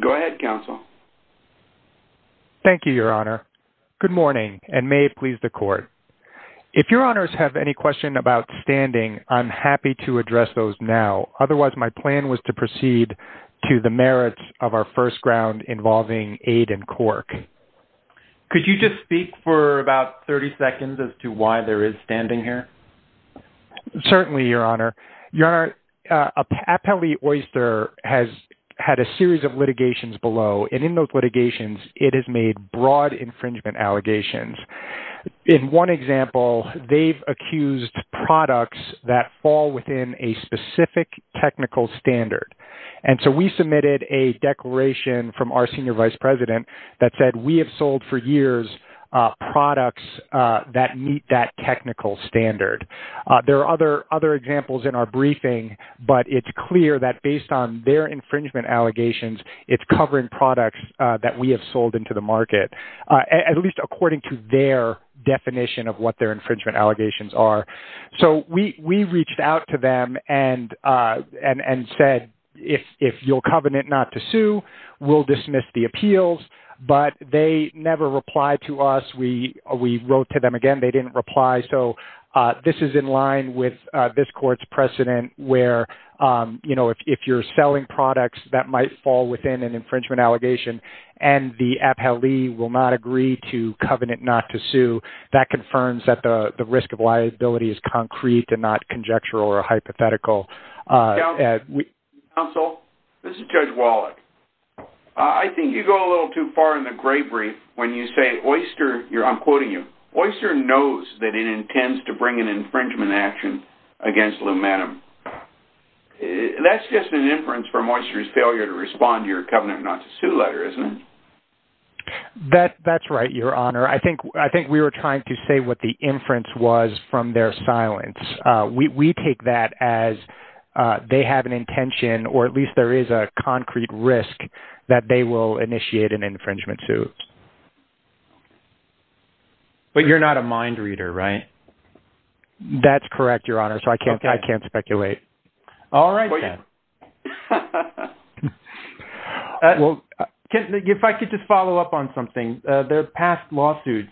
Go ahead, Counsel. Thank you, Your Honor. Good morning, and may it please the Court. If Your Honors have any questions about standing, I'm happy to address those now. Otherwise, my plan was to proceed to the merits of our first round involving aid and cork. Could you just speak for about 30 seconds as to why there is standing here? Certainly, Your Honor. Your Honor, Appellee Oyster has had a series of litigations below, and in those litigations, it has made broad infringement allegations. In one example, they've accused products that fall within a specific technical standard. And so we submitted a declaration from our Senior Vice President that said, we have sold for years products that meet that technical standard. There are other examples in our briefing, but it's clear that based on their infringement allegations, it's covering products that we have sold into the market, at least according to their definition of what their infringement allegations are. So we reached out to them and said, if you'll covenant not to sue, we'll dismiss the appeals, but they never replied to us. We wrote to them again, they didn't reply. So this is in line with this Court's precedent where if you're selling products that might fall within an infringement allegation and the appellee will not agree to covenant not to sue, that confirms that the risk of liability is concrete and not conjectural or hypothetical. Counsel, this is Judge Wallach. I think you go a little too far in the gray brief when you say Oyster, I'm quoting you, Oyster knows that it intends to bring an infringement action against Lou Manum. That's just an inference from Oyster's failure to respond to your covenant not to sue letter, isn't it? That's right, Your Honor. I think we were trying to say what the inference was from their silence. We take that as they have an intention or at least there is a concrete risk that they will initiate an infringement suit. But you're not a mind reader, right? That's correct, Your Honor. So I can't speculate. All right then. Well, if I could just follow up on something, there are past lawsuits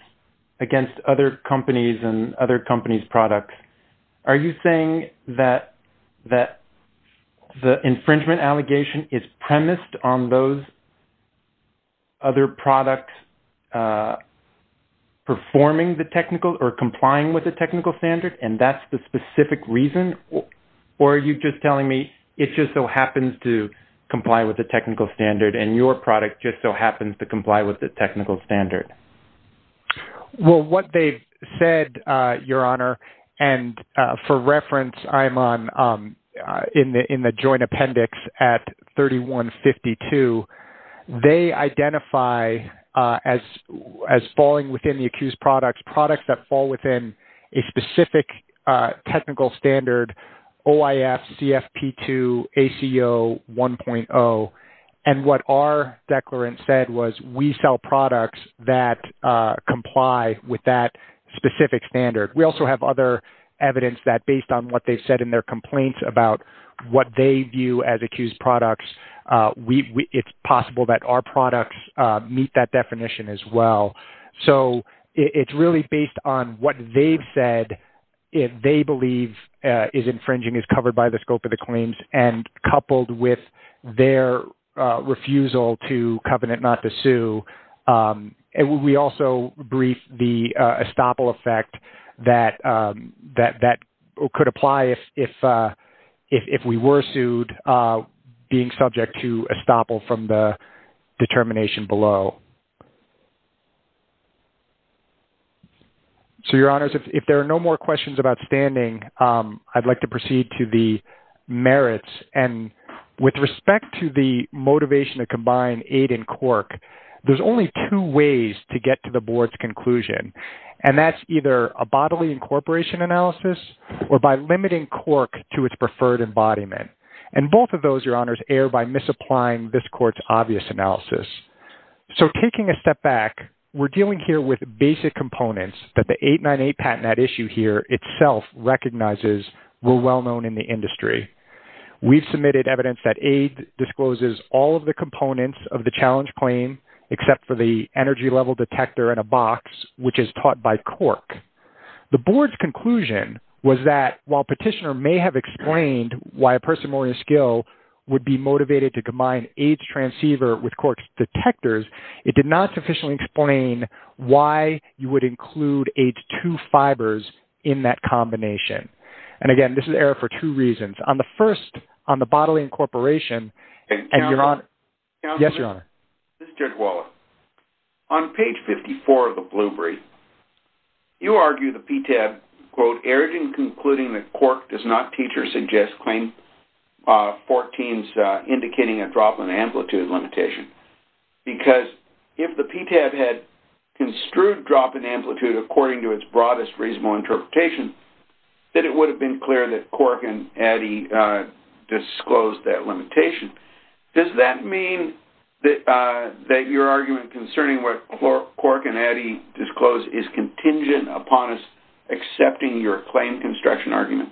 against other companies products. Are you saying that the infringement allegation is premised on those other products performing the technical or complying with the technical standard and that's the specific reason? Or are you just telling me it just so happens to comply with the technical standard and your product just so happens to comply with the technical standard? Well, what they've said, Your Honor, and for reference, I'm on in the joint appendix at 3152, they identify as falling within the accused products, products that fall within a specific technical standard, OIF, CFP2, ACO 1.0. And what our declarant said was we sell products that comply with that specific standard. We also have other evidence that based on what they've said in their complaints about what they view as accused products, it's possible that our products meet that definition as well. So it's really based on what they've said, if they believe is infringing is covered by the scope of the claims and coupled with their refusal to covenant not to sue. And we also brief the estoppel effect that could apply if we were sued, being subject to estoppel from the determination below. So, Your Honors, if there are no more questions about standing, I'd like to proceed to the cork. There's only two ways to get to the board's conclusion. And that's either a bodily incorporation analysis or by limiting cork to its preferred embodiment. And both of those, Your Honors, err by misapplying this court's obvious analysis. So taking a step back, we're dealing here with basic components that the 898 patent that issue here itself recognizes were well-known in the industry. We've submitted evidence that aid discloses all of the components of the challenge claim, except for the energy level detector in a box, which is taught by cork. The board's conclusion was that while petitioner may have explained why a person more in skill would be motivated to combine AIDS transceiver with cork detectors, it did not sufficiently explain why you would include AIDS 2 fibers in that combination. And again, this is error for two reasons. On the first, on the bodily incorporation, and Your Honor. Yes, Your Honor. This is Judge Waller. On page 54 of the blue brief, you argue the PTAB, quote, erring in concluding that cork does not teach or suggest claim 14's indicating a drop in amplitude limitation. Because if the PTAB had construed drop in amplitude according to its broadest reasonable interpretation, that it would have been clear that cork and Eddie disclosed that limitation. Does that mean that your argument concerning what cork and Eddie disclosed is contingent upon us accepting your claim construction argument?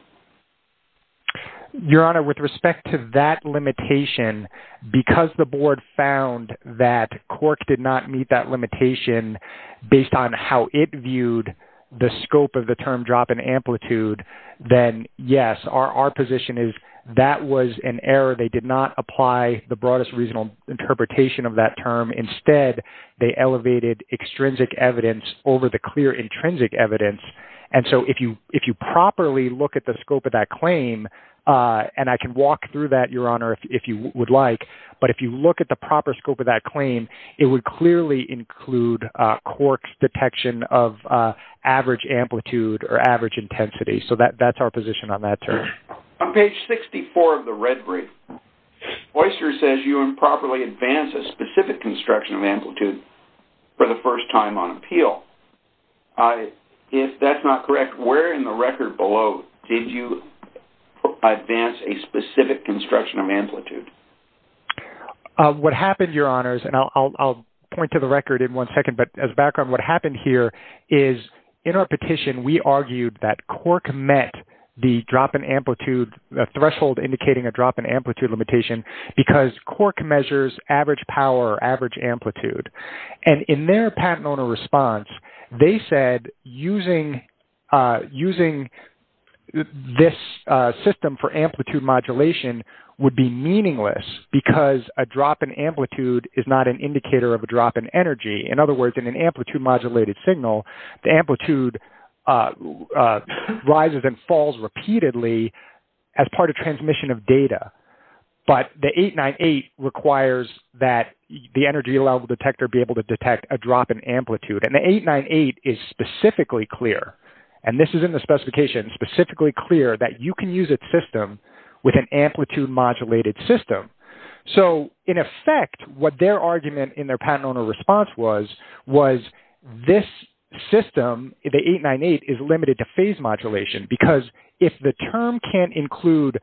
Your Honor, with respect to that limitation, because the board found that cork did not meet that limitation based on how it viewed the scope of the term drop in amplitude, then yes, our position is that was an error. They did not apply the broadest reasonable interpretation of that term. Instead, they elevated extrinsic evidence over the clear intrinsic evidence. And so if you properly look at the scope of that claim, and I can walk through that, Your Honor, if you would like, but if you look at the proper scope of that claim, it would clearly include cork detection of average amplitude or average intensity. So that's our position on that term. On page 64 of the red brief, Oyster says you improperly advance a specific construction of amplitude for the first time on appeal. If that's not correct, where in the record below did you advance a specific construction of amplitude? What happened, Your Honors, and I'll point to the record in one second, but as a background, what happened here is in our petition, we argued that cork met the drop in amplitude threshold indicating a drop in amplitude limitation because cork measures average power or average amplitude. And in their patent owner response, they said using this system for amplitude modulation would be meaningless because a drop in amplitude is not an indicator of a drop in energy. In other words, in an amplitude modulated signal, the amplitude rises and falls repeatedly as part of transmission of data. But the 898 requires that the energy level detector be able to detect a drop in amplitude. And the 898 is specifically clear, and this is in the modulated system. So in effect, what their argument in their patent owner response was, was this system, the 898 is limited to phase modulation because if the term can't include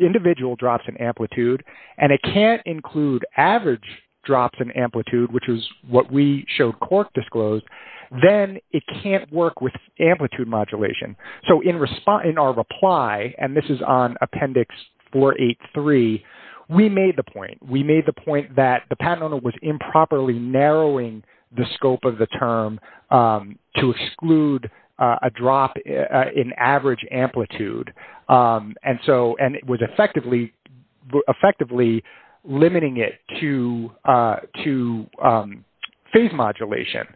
individual drops in amplitude, and it can't include average drops in amplitude, which is what we showed cork disclosed, then it can't work with amplitude modulation. So in our reply, and this is on appendix 483, we made the point. We made the point that the patent owner was improperly narrowing the scope of the term to exclude a drop in average amplitude. And so, and it was effectively limiting it to phase modulation.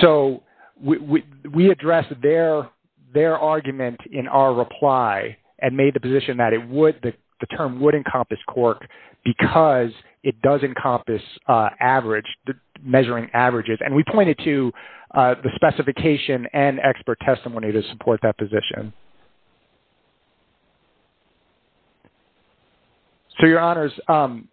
So we addressed their argument in our reply and made the position that it would, that the term would encompass cork because it does encompass average, measuring averages. And we pointed to the specification and expert testimony to support that position. So your honors, on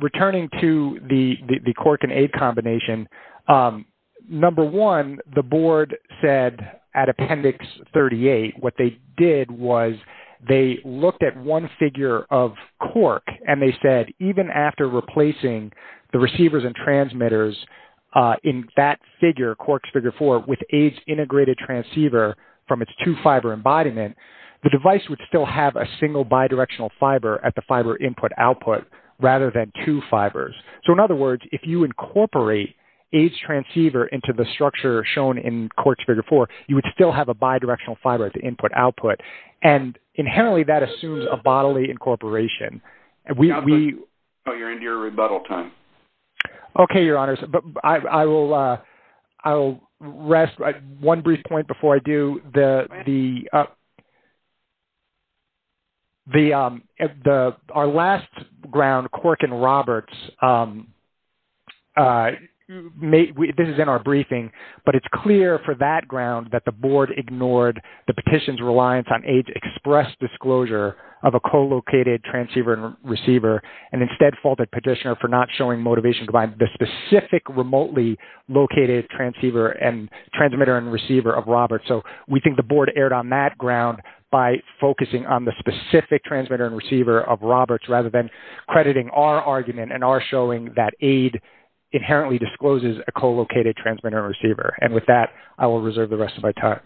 returning to the cork and aid combination, number one, the board said at appendix 38, what they did was they looked at one figure of cork and they said, even after replacing the receivers and transmitters in that figure, corks figure four, with AIDS integrated transceiver from its two fiber embodiment, the device would still have a single bidirectional fiber at the fiber input output rather than two fibers. So in other words, if you incorporate AIDS transceiver into the structure shown in corks figure four, you would still have a bidirectional fiber at the input output. And inherently that assumes a bodily incorporation. Oh, you're into your rebuttal time. Okay, your honors, but I will, I'll rest one brief point before I do. The, our last ground cork and Roberts this is in our briefing, but it's clear for that ground that the board ignored the petition's reliance on AIDS express disclosure of a co-located transceiver and receiver and instead faulted petitioner for not showing motivation to buy the specific remotely located transceiver and transmitter and receiver of Roberts. So we think the board erred on that ground by focusing on the specific transmitter and receiver of Roberts rather than crediting our argument and our showing that he discloses a co-located transmitter and receiver. And with that, I will reserve the rest of my time.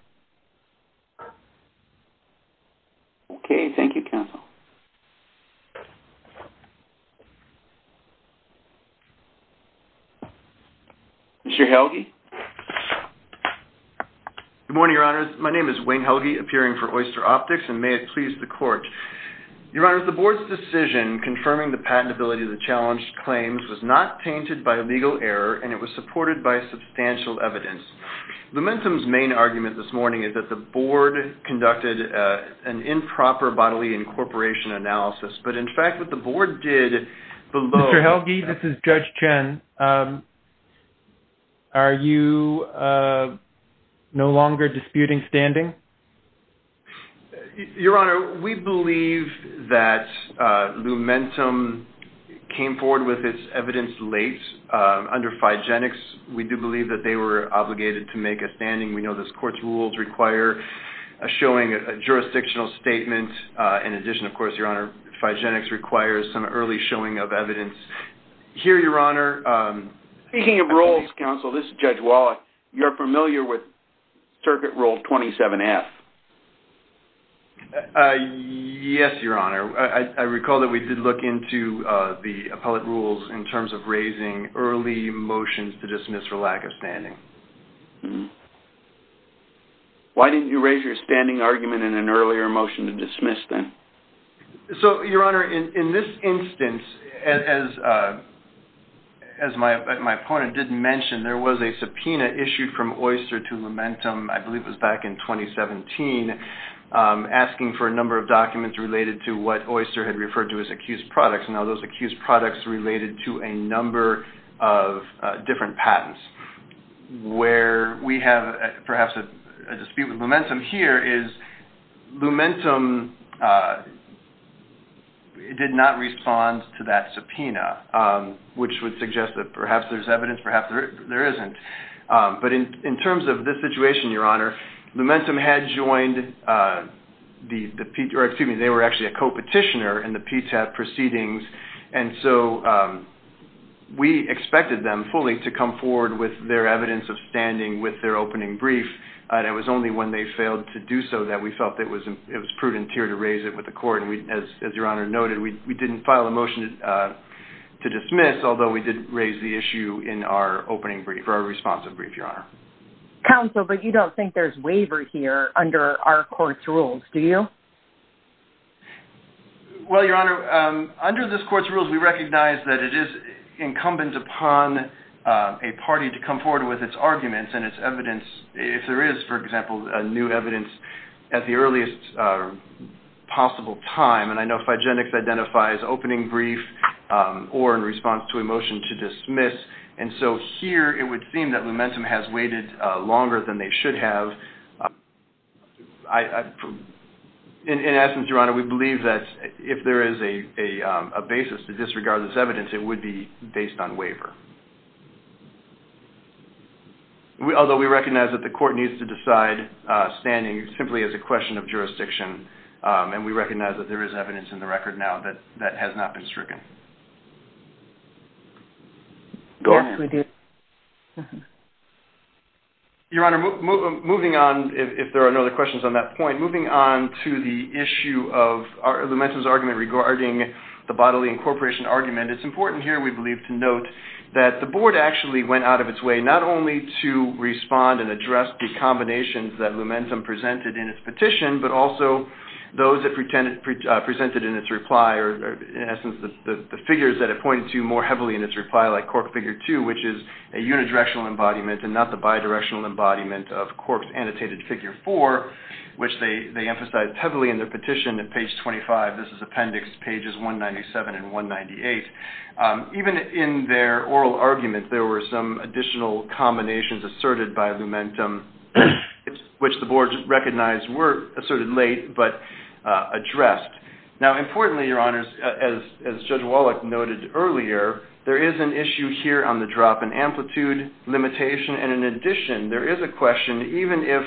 Okay. Thank you counsel. Mr. Helge. Good morning, your honors. My name is Wayne Helge appearing for oyster optics and may it please the court. Your honors, the board's decision confirming the patentability of the claims was not tainted by legal error and it was supported by substantial evidence. The momentum's main argument this morning is that the board conducted an improper bodily incorporation analysis, but in fact what the board did below healthy, this is judge Chen. Are you no longer disputing standing? Your honor, we believe that momentum came forward with its evidence late under Phygenics. We do believe that they were obligated to make a standing. We know this court's rules require a showing a jurisdictional statement. In addition, of course, your honor, Phygenics requires some early showing of evidence. Here, your honor. Speaking of roles, counsel, this is judge Wallace. You're familiar with circuit rule 27F? Yes, your honor. I recall that we did look into the appellate rules in terms of raising early motions to dismiss for lack of standing. Why didn't you raise your standing argument in an earlier motion to dismiss then? So, your honor, in this instance, as my opponent did mention, there was a subpoena issued from Oyster to Lumentum, I believe it was back in 2017, asking for a number of documents related to what Oyster had referred to as accused products. Now, those accused products related to a number of different patents. Where we have perhaps a dispute with Lumentum here is Lumentum did not respond to that subpoena, which would suggest that perhaps there's evidence, perhaps there isn't. But in terms of this situation, your honor, Lumentum had joined the, excuse me, they were actually a co-petitioner in the PTAT proceedings, and so we expected them fully to come forward with their evidence of standing with their opening brief, and it was only when they did, as your honor noted, we didn't file a motion to dismiss, although we did raise the issue in our opening brief, our responsive brief, your honor. Counsel, but you don't think there's waiver here under our court's rules, do you? Well, your honor, under this court's rules, we recognize that it is incumbent upon a party to come forward with its arguments and its evidence, if there is, for example, new evidence at the time, and I know Figenics identifies opening brief or in response to a motion to dismiss, and so here it would seem that Lumentum has waited longer than they should have. In essence, your honor, we believe that if there is a basis to disregard this evidence, it would be based on waiver. Although we recognize that the court needs to decide standing simply as a question of jurisdiction, and we recognize that there is evidence in the record now that has not been stricken. Your honor, moving on, if there are no other questions on that point, moving on to the issue of Lumentum's argument regarding the bodily incorporation argument, it's important here, we believe, to note that the board actually went out of its way not only to respond and Lumentum presented in its petition, but also those that presented in its reply, or in essence, the figures that it pointed to more heavily in its reply, like cork figure two, which is a unidirectional embodiment and not the bidirectional embodiment of cork's annotated figure four, which they emphasized heavily in their petition at page 25. This is appendix pages 197 and 198. Even in their oral argument, there were some additional combinations asserted by Lumentum, which the board recognized were asserted late, but addressed. Now, importantly, your honors, as Judge Wallach noted earlier, there is an issue here on the drop in amplitude limitation, and in addition, there is a question, even if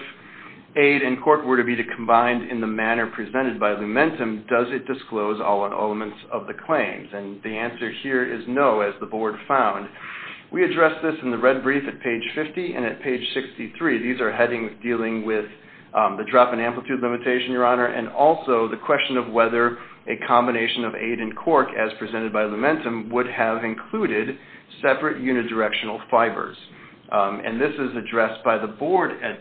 aid and cork were to be combined in the manner presented by Lumentum, does it disclose all elements of the claims? And the answer here is no, as the board found. We addressed this in the red brief at page 50, and at page 63, these are headings dealing with the drop in amplitude limitation, your honor, and also the question of whether a combination of aid and cork, as presented by Lumentum, would have included separate unidirectional fibers. And this is addressed by the board at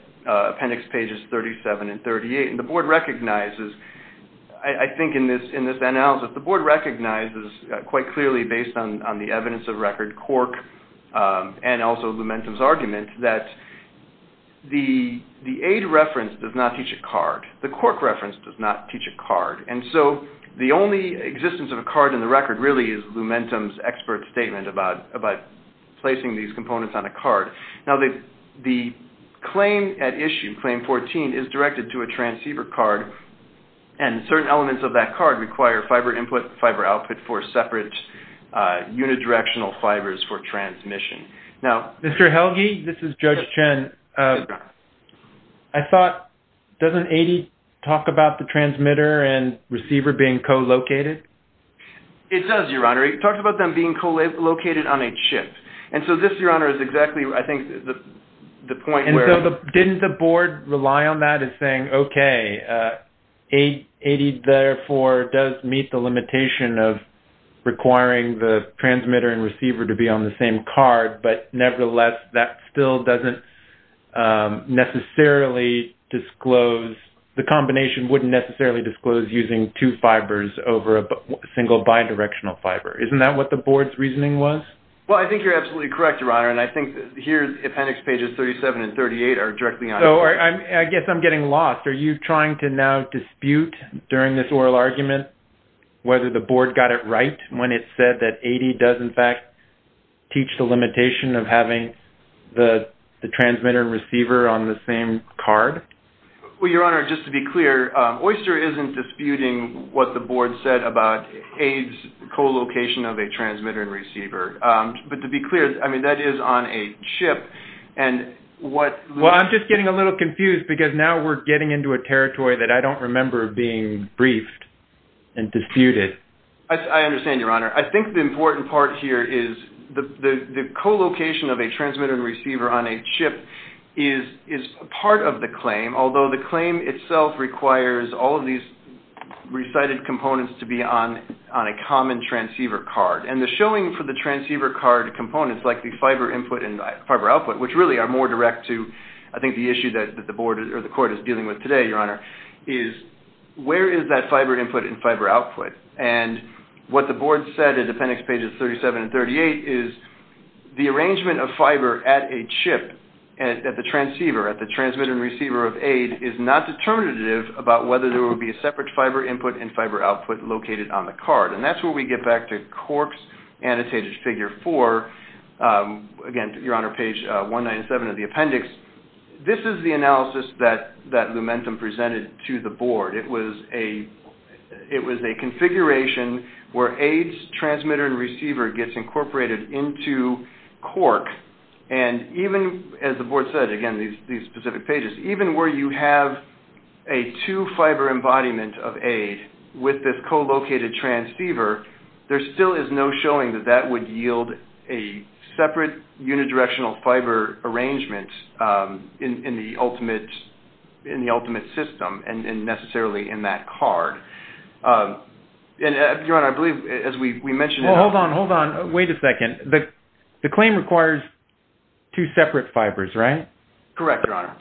appendix pages 37 and 38, and the board recognizes, I think in this analysis, the board recognizes quite clearly, based on the evidence of record, cork, and also Lumentum's argument, that the aid reference does not teach a card. The cork reference does not teach a card. And so the only existence of a card in the record, really, is Lumentum's expert statement about placing these components on a card. Now, the claim at issue, claim 14, is directed to a transceiver card, and certain elements of that card require fiber input, fiber output for separate unidirectional fibers for transmission. Now, Mr. Helge, this is Judge Chen. I thought, doesn't 80 talk about the transmitter and receiver being co-located? It does, your honor. It talks about them being co-located on a chip. And so this, your honor, is exactly, I think, the point where... And so didn't the board rely on that and saying, okay, 80, therefore, does meet the limitation of requiring the transmitter and receiver to be on the same card, but nevertheless, that still doesn't necessarily disclose, the combination wouldn't necessarily disclose using two fibers over a single bidirectional fiber. Isn't that what the board's reasoning was? Well, I think you're absolutely correct, your honor, and I think here, appendix pages 37 and 38 are directly on... So, I guess I'm getting lost. Are you trying to now dispute during this oral argument whether the board got it right when it said that 80 does, in fact, teach the limitation of having the transmitter and receiver on the same card? Well, your honor, just to be clear, Oyster isn't disputing what the board said about co-location of a transmitter and receiver. But to be clear, I mean, that is on a chip and what... Well, I'm just getting a little confused because now we're getting into a territory that I don't remember being briefed and disputed. I understand, your honor. I think the important part here is the co-location of a transmitter and receiver on a chip is part of the claim, although the claim itself requires all of these recited components to be on a common transceiver card. And the showing for the transceiver card components, like the fiber input and fiber output, which really are more direct to, I think, the issue that the board or the court is dealing with today, your honor, is where is that fiber input and fiber output? And what the board said in appendix pages 37 and 38 is the arrangement of fiber at a chip, at the transceiver, at the transmitter and receiver of aid is not determinative about whether there will be a separate fiber input and fiber output located on the card. And that's where we get back to Cork's annotated figure four. Again, your honor, page 197 of the appendix, this is the analysis that Lumentum presented to the board. It was a configuration where aid's again, these specific pages, even where you have a two fiber embodiment of aid with this co-located transceiver, there still is no showing that that would yield a separate unidirectional fiber arrangement in the ultimate system and necessarily in that card. And your honor, I believe as we mentioned... Hold on, hold on. Wait a second. The claim requires two separate fibers, right? Correct, your honor.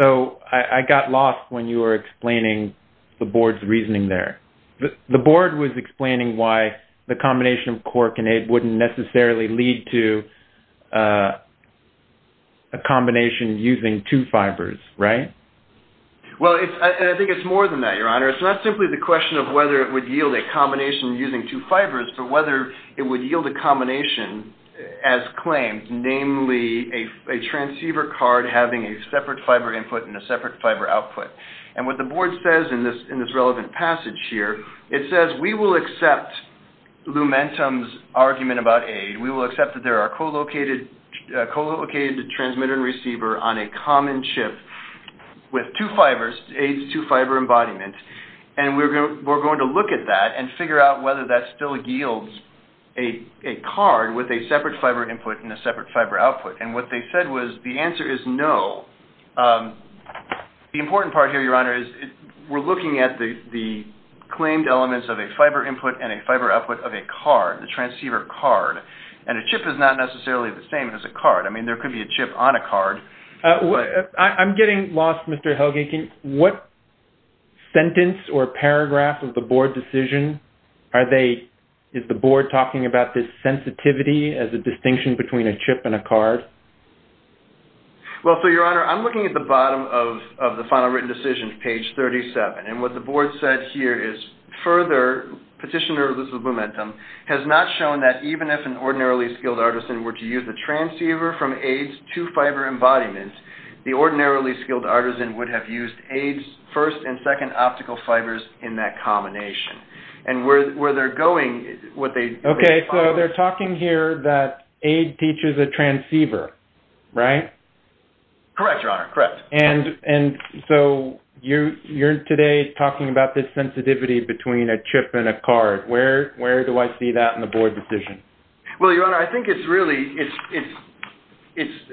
So I got lost when you were explaining the board's reasoning there. The board was explaining why the combination of Cork and aid wouldn't necessarily lead to a combination using two fibers, right? Well, I think it's more than that, your honor. It's not simply the question of whether it would yield a combination using two fibers, but whether it would yield a combination as claimed, namely a transceiver card having a separate fiber input and a separate fiber output. And what the board says in this relevant passage here, it says we will accept Lumentum's argument about aid. We will accept that there are co-located transmitter and receiver on a common chip with two fibers, aid's two fiber embodiment. And we're going to look at that and figure out whether that still yields a card with a separate fiber input and a separate fiber output. And what they said was the answer is no. The important part here, your honor, is we're looking at the claimed elements of a fiber input and a fiber output of a card, the transceiver card. And a chip is not necessarily the same as a card. I mean, there could be a chip on a card. I'm getting lost, Mr. Helginkin. What sentence or paragraph of the board decision are they, is the board talking about this sensitivity as a distinction between a chip and a card? Well, so your honor, I'm looking at the bottom of the final written decision, page 37. And what the board said here is further, petitioner Luz of Lumentum has not shown that even if an ordinarily skilled artisan were to use a transceiver from aid's two fiber embodiment, the ordinarily skilled artisan would have used aid's first and second optical fibers in that combination. And where they're going, what they... Okay, so they're talking here that aid teaches a transceiver, right? Correct, your honor, correct. And so you're today talking about this sensitivity between a chip and a card. Where do I see that in the board decision? Well, your honor, I think it's really, it's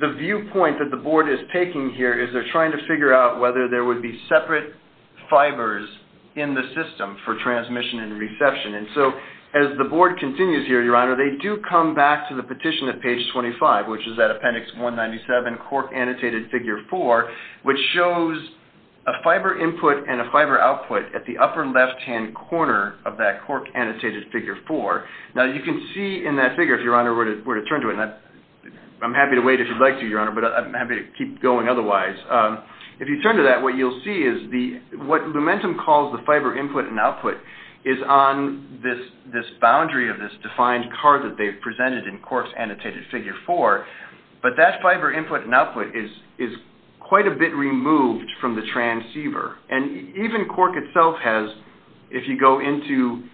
the viewpoint that the board is taking here is they're trying to figure out whether there would be separate fibers in the system for transmission and reception. And so as the board continues here, your honor, they do come back to the petition at page 25, which is appendix 197, cork annotated figure four, which shows a fiber input and a fiber output at the upper left-hand corner of that cork annotated figure four. Now you can see in that figure, if your honor were to turn to it, and I'm happy to wait if you'd like to, your honor, but I'm happy to keep going otherwise. If you turn to that, what you'll see is the, what Lumentum calls the fiber input and output is on this boundary of this defined card that they've presented in but that fiber input and output is quite a bit removed from the transceiver. And even cork itself has, if you go into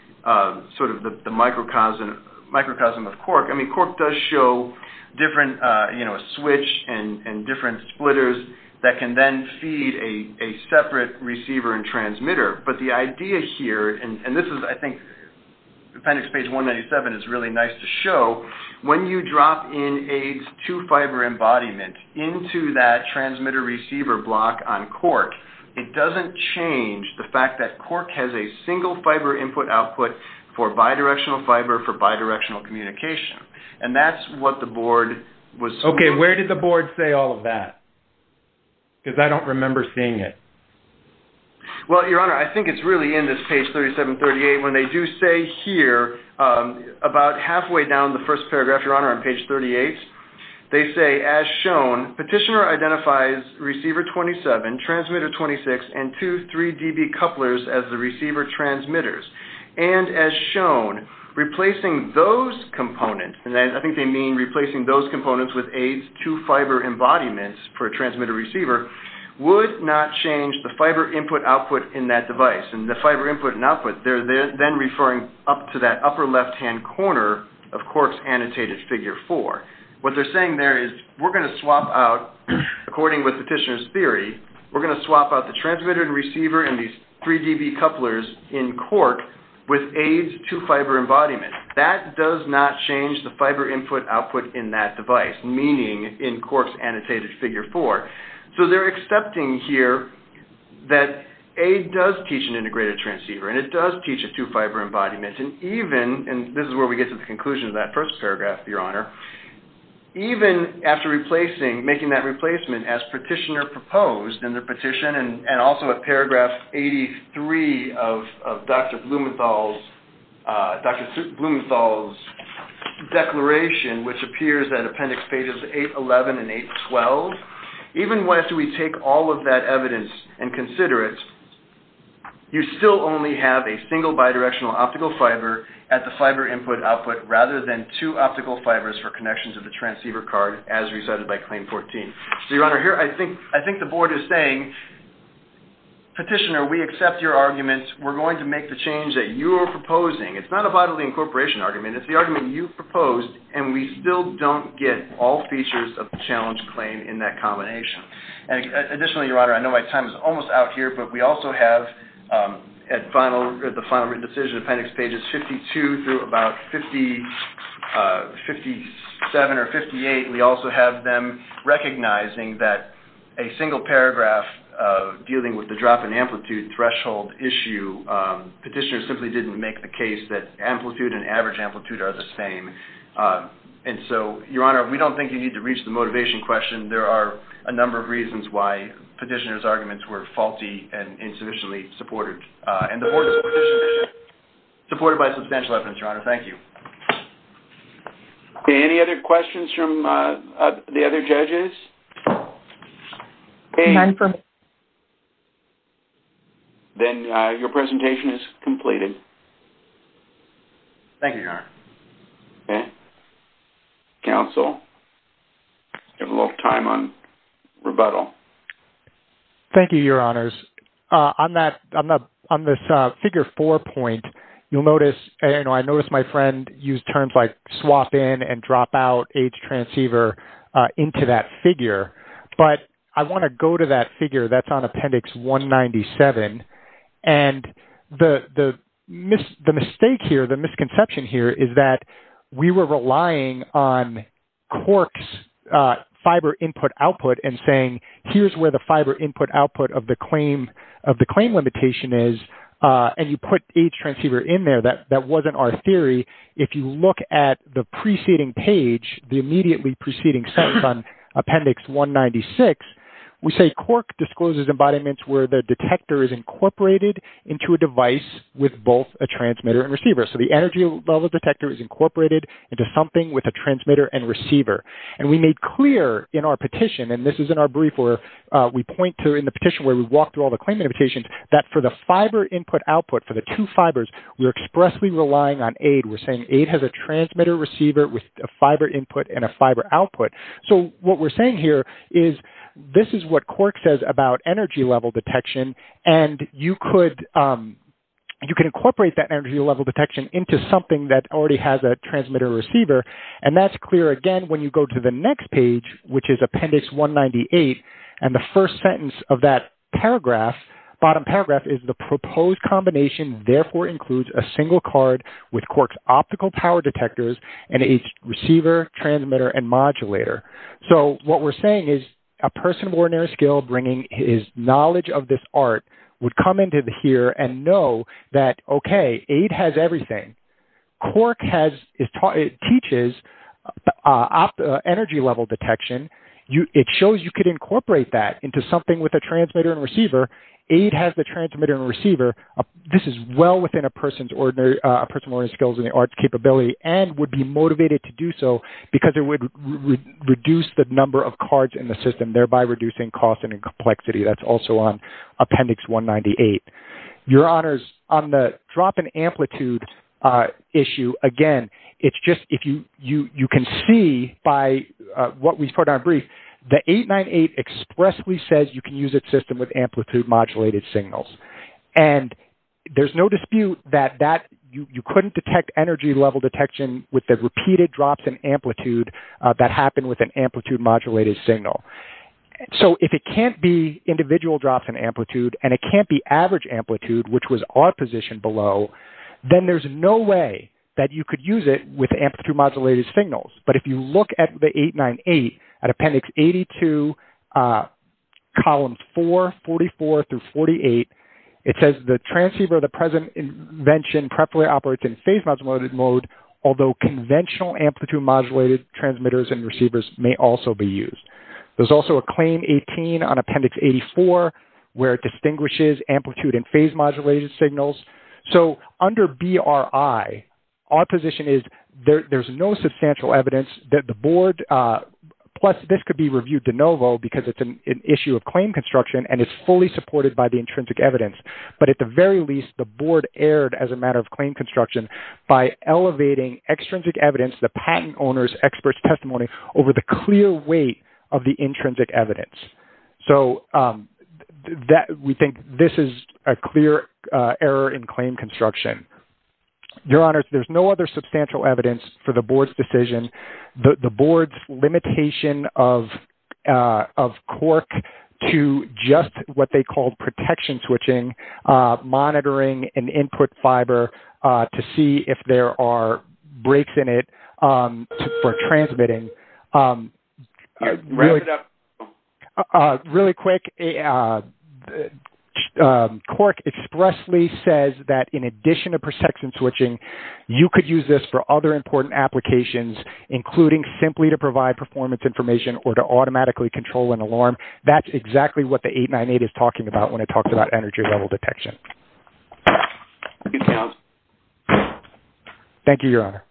sort of the microcosm of cork, I mean, cork does show different, you know, a switch and different splitters that can then feed a separate receiver and transmitter. But the idea here, and this is, I think appendix page 197 is really nice to show, when you drop in aids to fiber embodiment into that transmitter receiver block on cork, it doesn't change the fact that cork has a single fiber input output for bidirectional fiber for bidirectional communication. And that's what the board was... Okay, where did the board say all of that? Because I don't remember seeing it. Well, your honor, I think it's really in this page 37-38 when they do say here, about halfway down the first paragraph, your honor, on page 38, they say, as shown, petitioner identifies receiver 27, transmitter 26, and two 3 dB couplers as the receiver transmitters. And as shown, replacing those components, and I think they mean replacing those components with aids to fiber embodiments for a transmitter receiver, would not change the fiber input output in that device. And the fiber input and output, they're then referring up to that upper left-hand corner of cork's annotated figure four. What they're saying there is we're going to swap out, according with the petitioner's theory, we're going to swap out the transmitter and receiver and these 3 dB couplers in cork with aids to fiber embodiment. That does not change the fiber input output in that device, meaning in cork's annotated figure four. So, they're accepting here that aid does teach an integrated transceiver, and it does teach a two fiber embodiment. And even, and this is where we get to the conclusion of that first paragraph, your honor, even after replacing, making that replacement as petitioner proposed in their declaration, which appears at appendix pages 811 and 812, even once we take all of that evidence and consider it, you still only have a single bidirectional optical fiber at the fiber input output, rather than two optical fibers for connections of the transceiver card, as decided by claim 14. So, your honor, here I think, I think the board is saying, petitioner, we accept your argument. We're going to make the change that you're proposing. It's not a bodily incorporation argument. It's the argument you proposed, and we still don't get all features of the challenge claim in that combination. And additionally, your honor, I know my time is almost out here, but we also have at final, at the final written decision appendix pages 52 through about 57 or 58, we also have them recognizing that a single paragraph dealing with the drop in amplitude threshold issue, petitioner simply didn't make the case that amplitude and average amplitude are the same. And so, your honor, we don't think you need to reach the motivation question. There are a number of reasons why petitioner's arguments were faulty and insufficiently supported. And the board is supported by substantial evidence, your honor. Thank you. Any other questions from the other judges? Then your presentation is completed. Thank you, your honor. Okay. Counsel, give a little time on rebuttal. Thank you, your honors. On that, on this figure four point, you'll notice, I noticed my friend used terms like swap in and drop out H transceiver into that and the, the, the mistake here, the misconception here is that we were relying on corks fiber input output and saying, here's where the fiber input output of the claim of the claim limitation is. And you put H transceiver in there. That, that wasn't our theory. If you look at the preceding page, the immediately preceding sentence on appendix 196, we say cork discloses embodiments where the detector is incorporated into a device with both a transmitter and receiver. So, the energy level detector is incorporated into something with a transmitter and receiver. And we made clear in our petition, and this is in our brief where we point to in the petition where we walk through all the claim limitations, that for the fiber input output for the two fibers, we're expressly relying on aid. We're saying aid has a transmitter receiver with a fiber input and a fiber output. So, what we're saying here is this is what cork says about energy level detection. And you could, you can incorporate that energy level detection into something that already has a transmitter receiver. And that's clear again, when you go to the next page, which is appendix 198. And the first sentence of that paragraph, bottom paragraph is the proposed combination therefore includes a single card with cork's optical power detectors and each receiver, transmitter, and modulator. So, what we're saying is a person of ordinary skill bringing his knowledge of this art would come into here and know that, okay, aid has everything. Cork has, it teaches energy level detection. It shows you could incorporate that into something with a transmitter and receiver. Aid has the transmitter and receiver. This is well within a person's ordinary, a person's skills in the arts capability and would be motivated to do so because it would reduce the number of cards in the system, thereby reducing cost and complexity. That's also on appendix 198. Your honors, on the drop in amplitude issue, again, it's just, you can see by what we put on brief, the 898 expressly says you can use its system with amplitude modulated signals. And there's no dispute that you couldn't detect energy level detection with the repeated drops in amplitude that happened with an amplitude modulated signal. So, if it can't be individual drops in amplitude and it can't be average amplitude, which was our position below, then there's no way that you could use it with amplitude modulated signals. But if you look at the 898, at appendix 82, columns 4, 44 through 48, it says the transceiver of the present invention preferably operates in phase modulated mode, although conventional amplitude modulated transmitters and receivers may also be used. There's also a claim 18 on appendix 84, where it distinguishes amplitude and phase modulated signals. So, under BRI, our position is there's no substantial evidence that the board, plus this could be reviewed de novo because it's an issue of claim construction and it's fully supported by the intrinsic evidence. But at the very least, the board erred as a matter of claim construction by elevating extrinsic evidence, the patent owner's expert's testimony, over the clear weight of the intrinsic evidence. So, we think this is a clear error in claim construction. Your Honors, there's no other substantial evidence for the board's decision, the board's limitation of cork to just what they are brakes in it for transmitting. Really quick, cork expressly says that in addition to protection switching, you could use this for other important applications, including simply to provide performance information or to automatically control an alarm. That's exactly what the 898 is talking about when it talks about energy level detection. Thank you, Your Honor.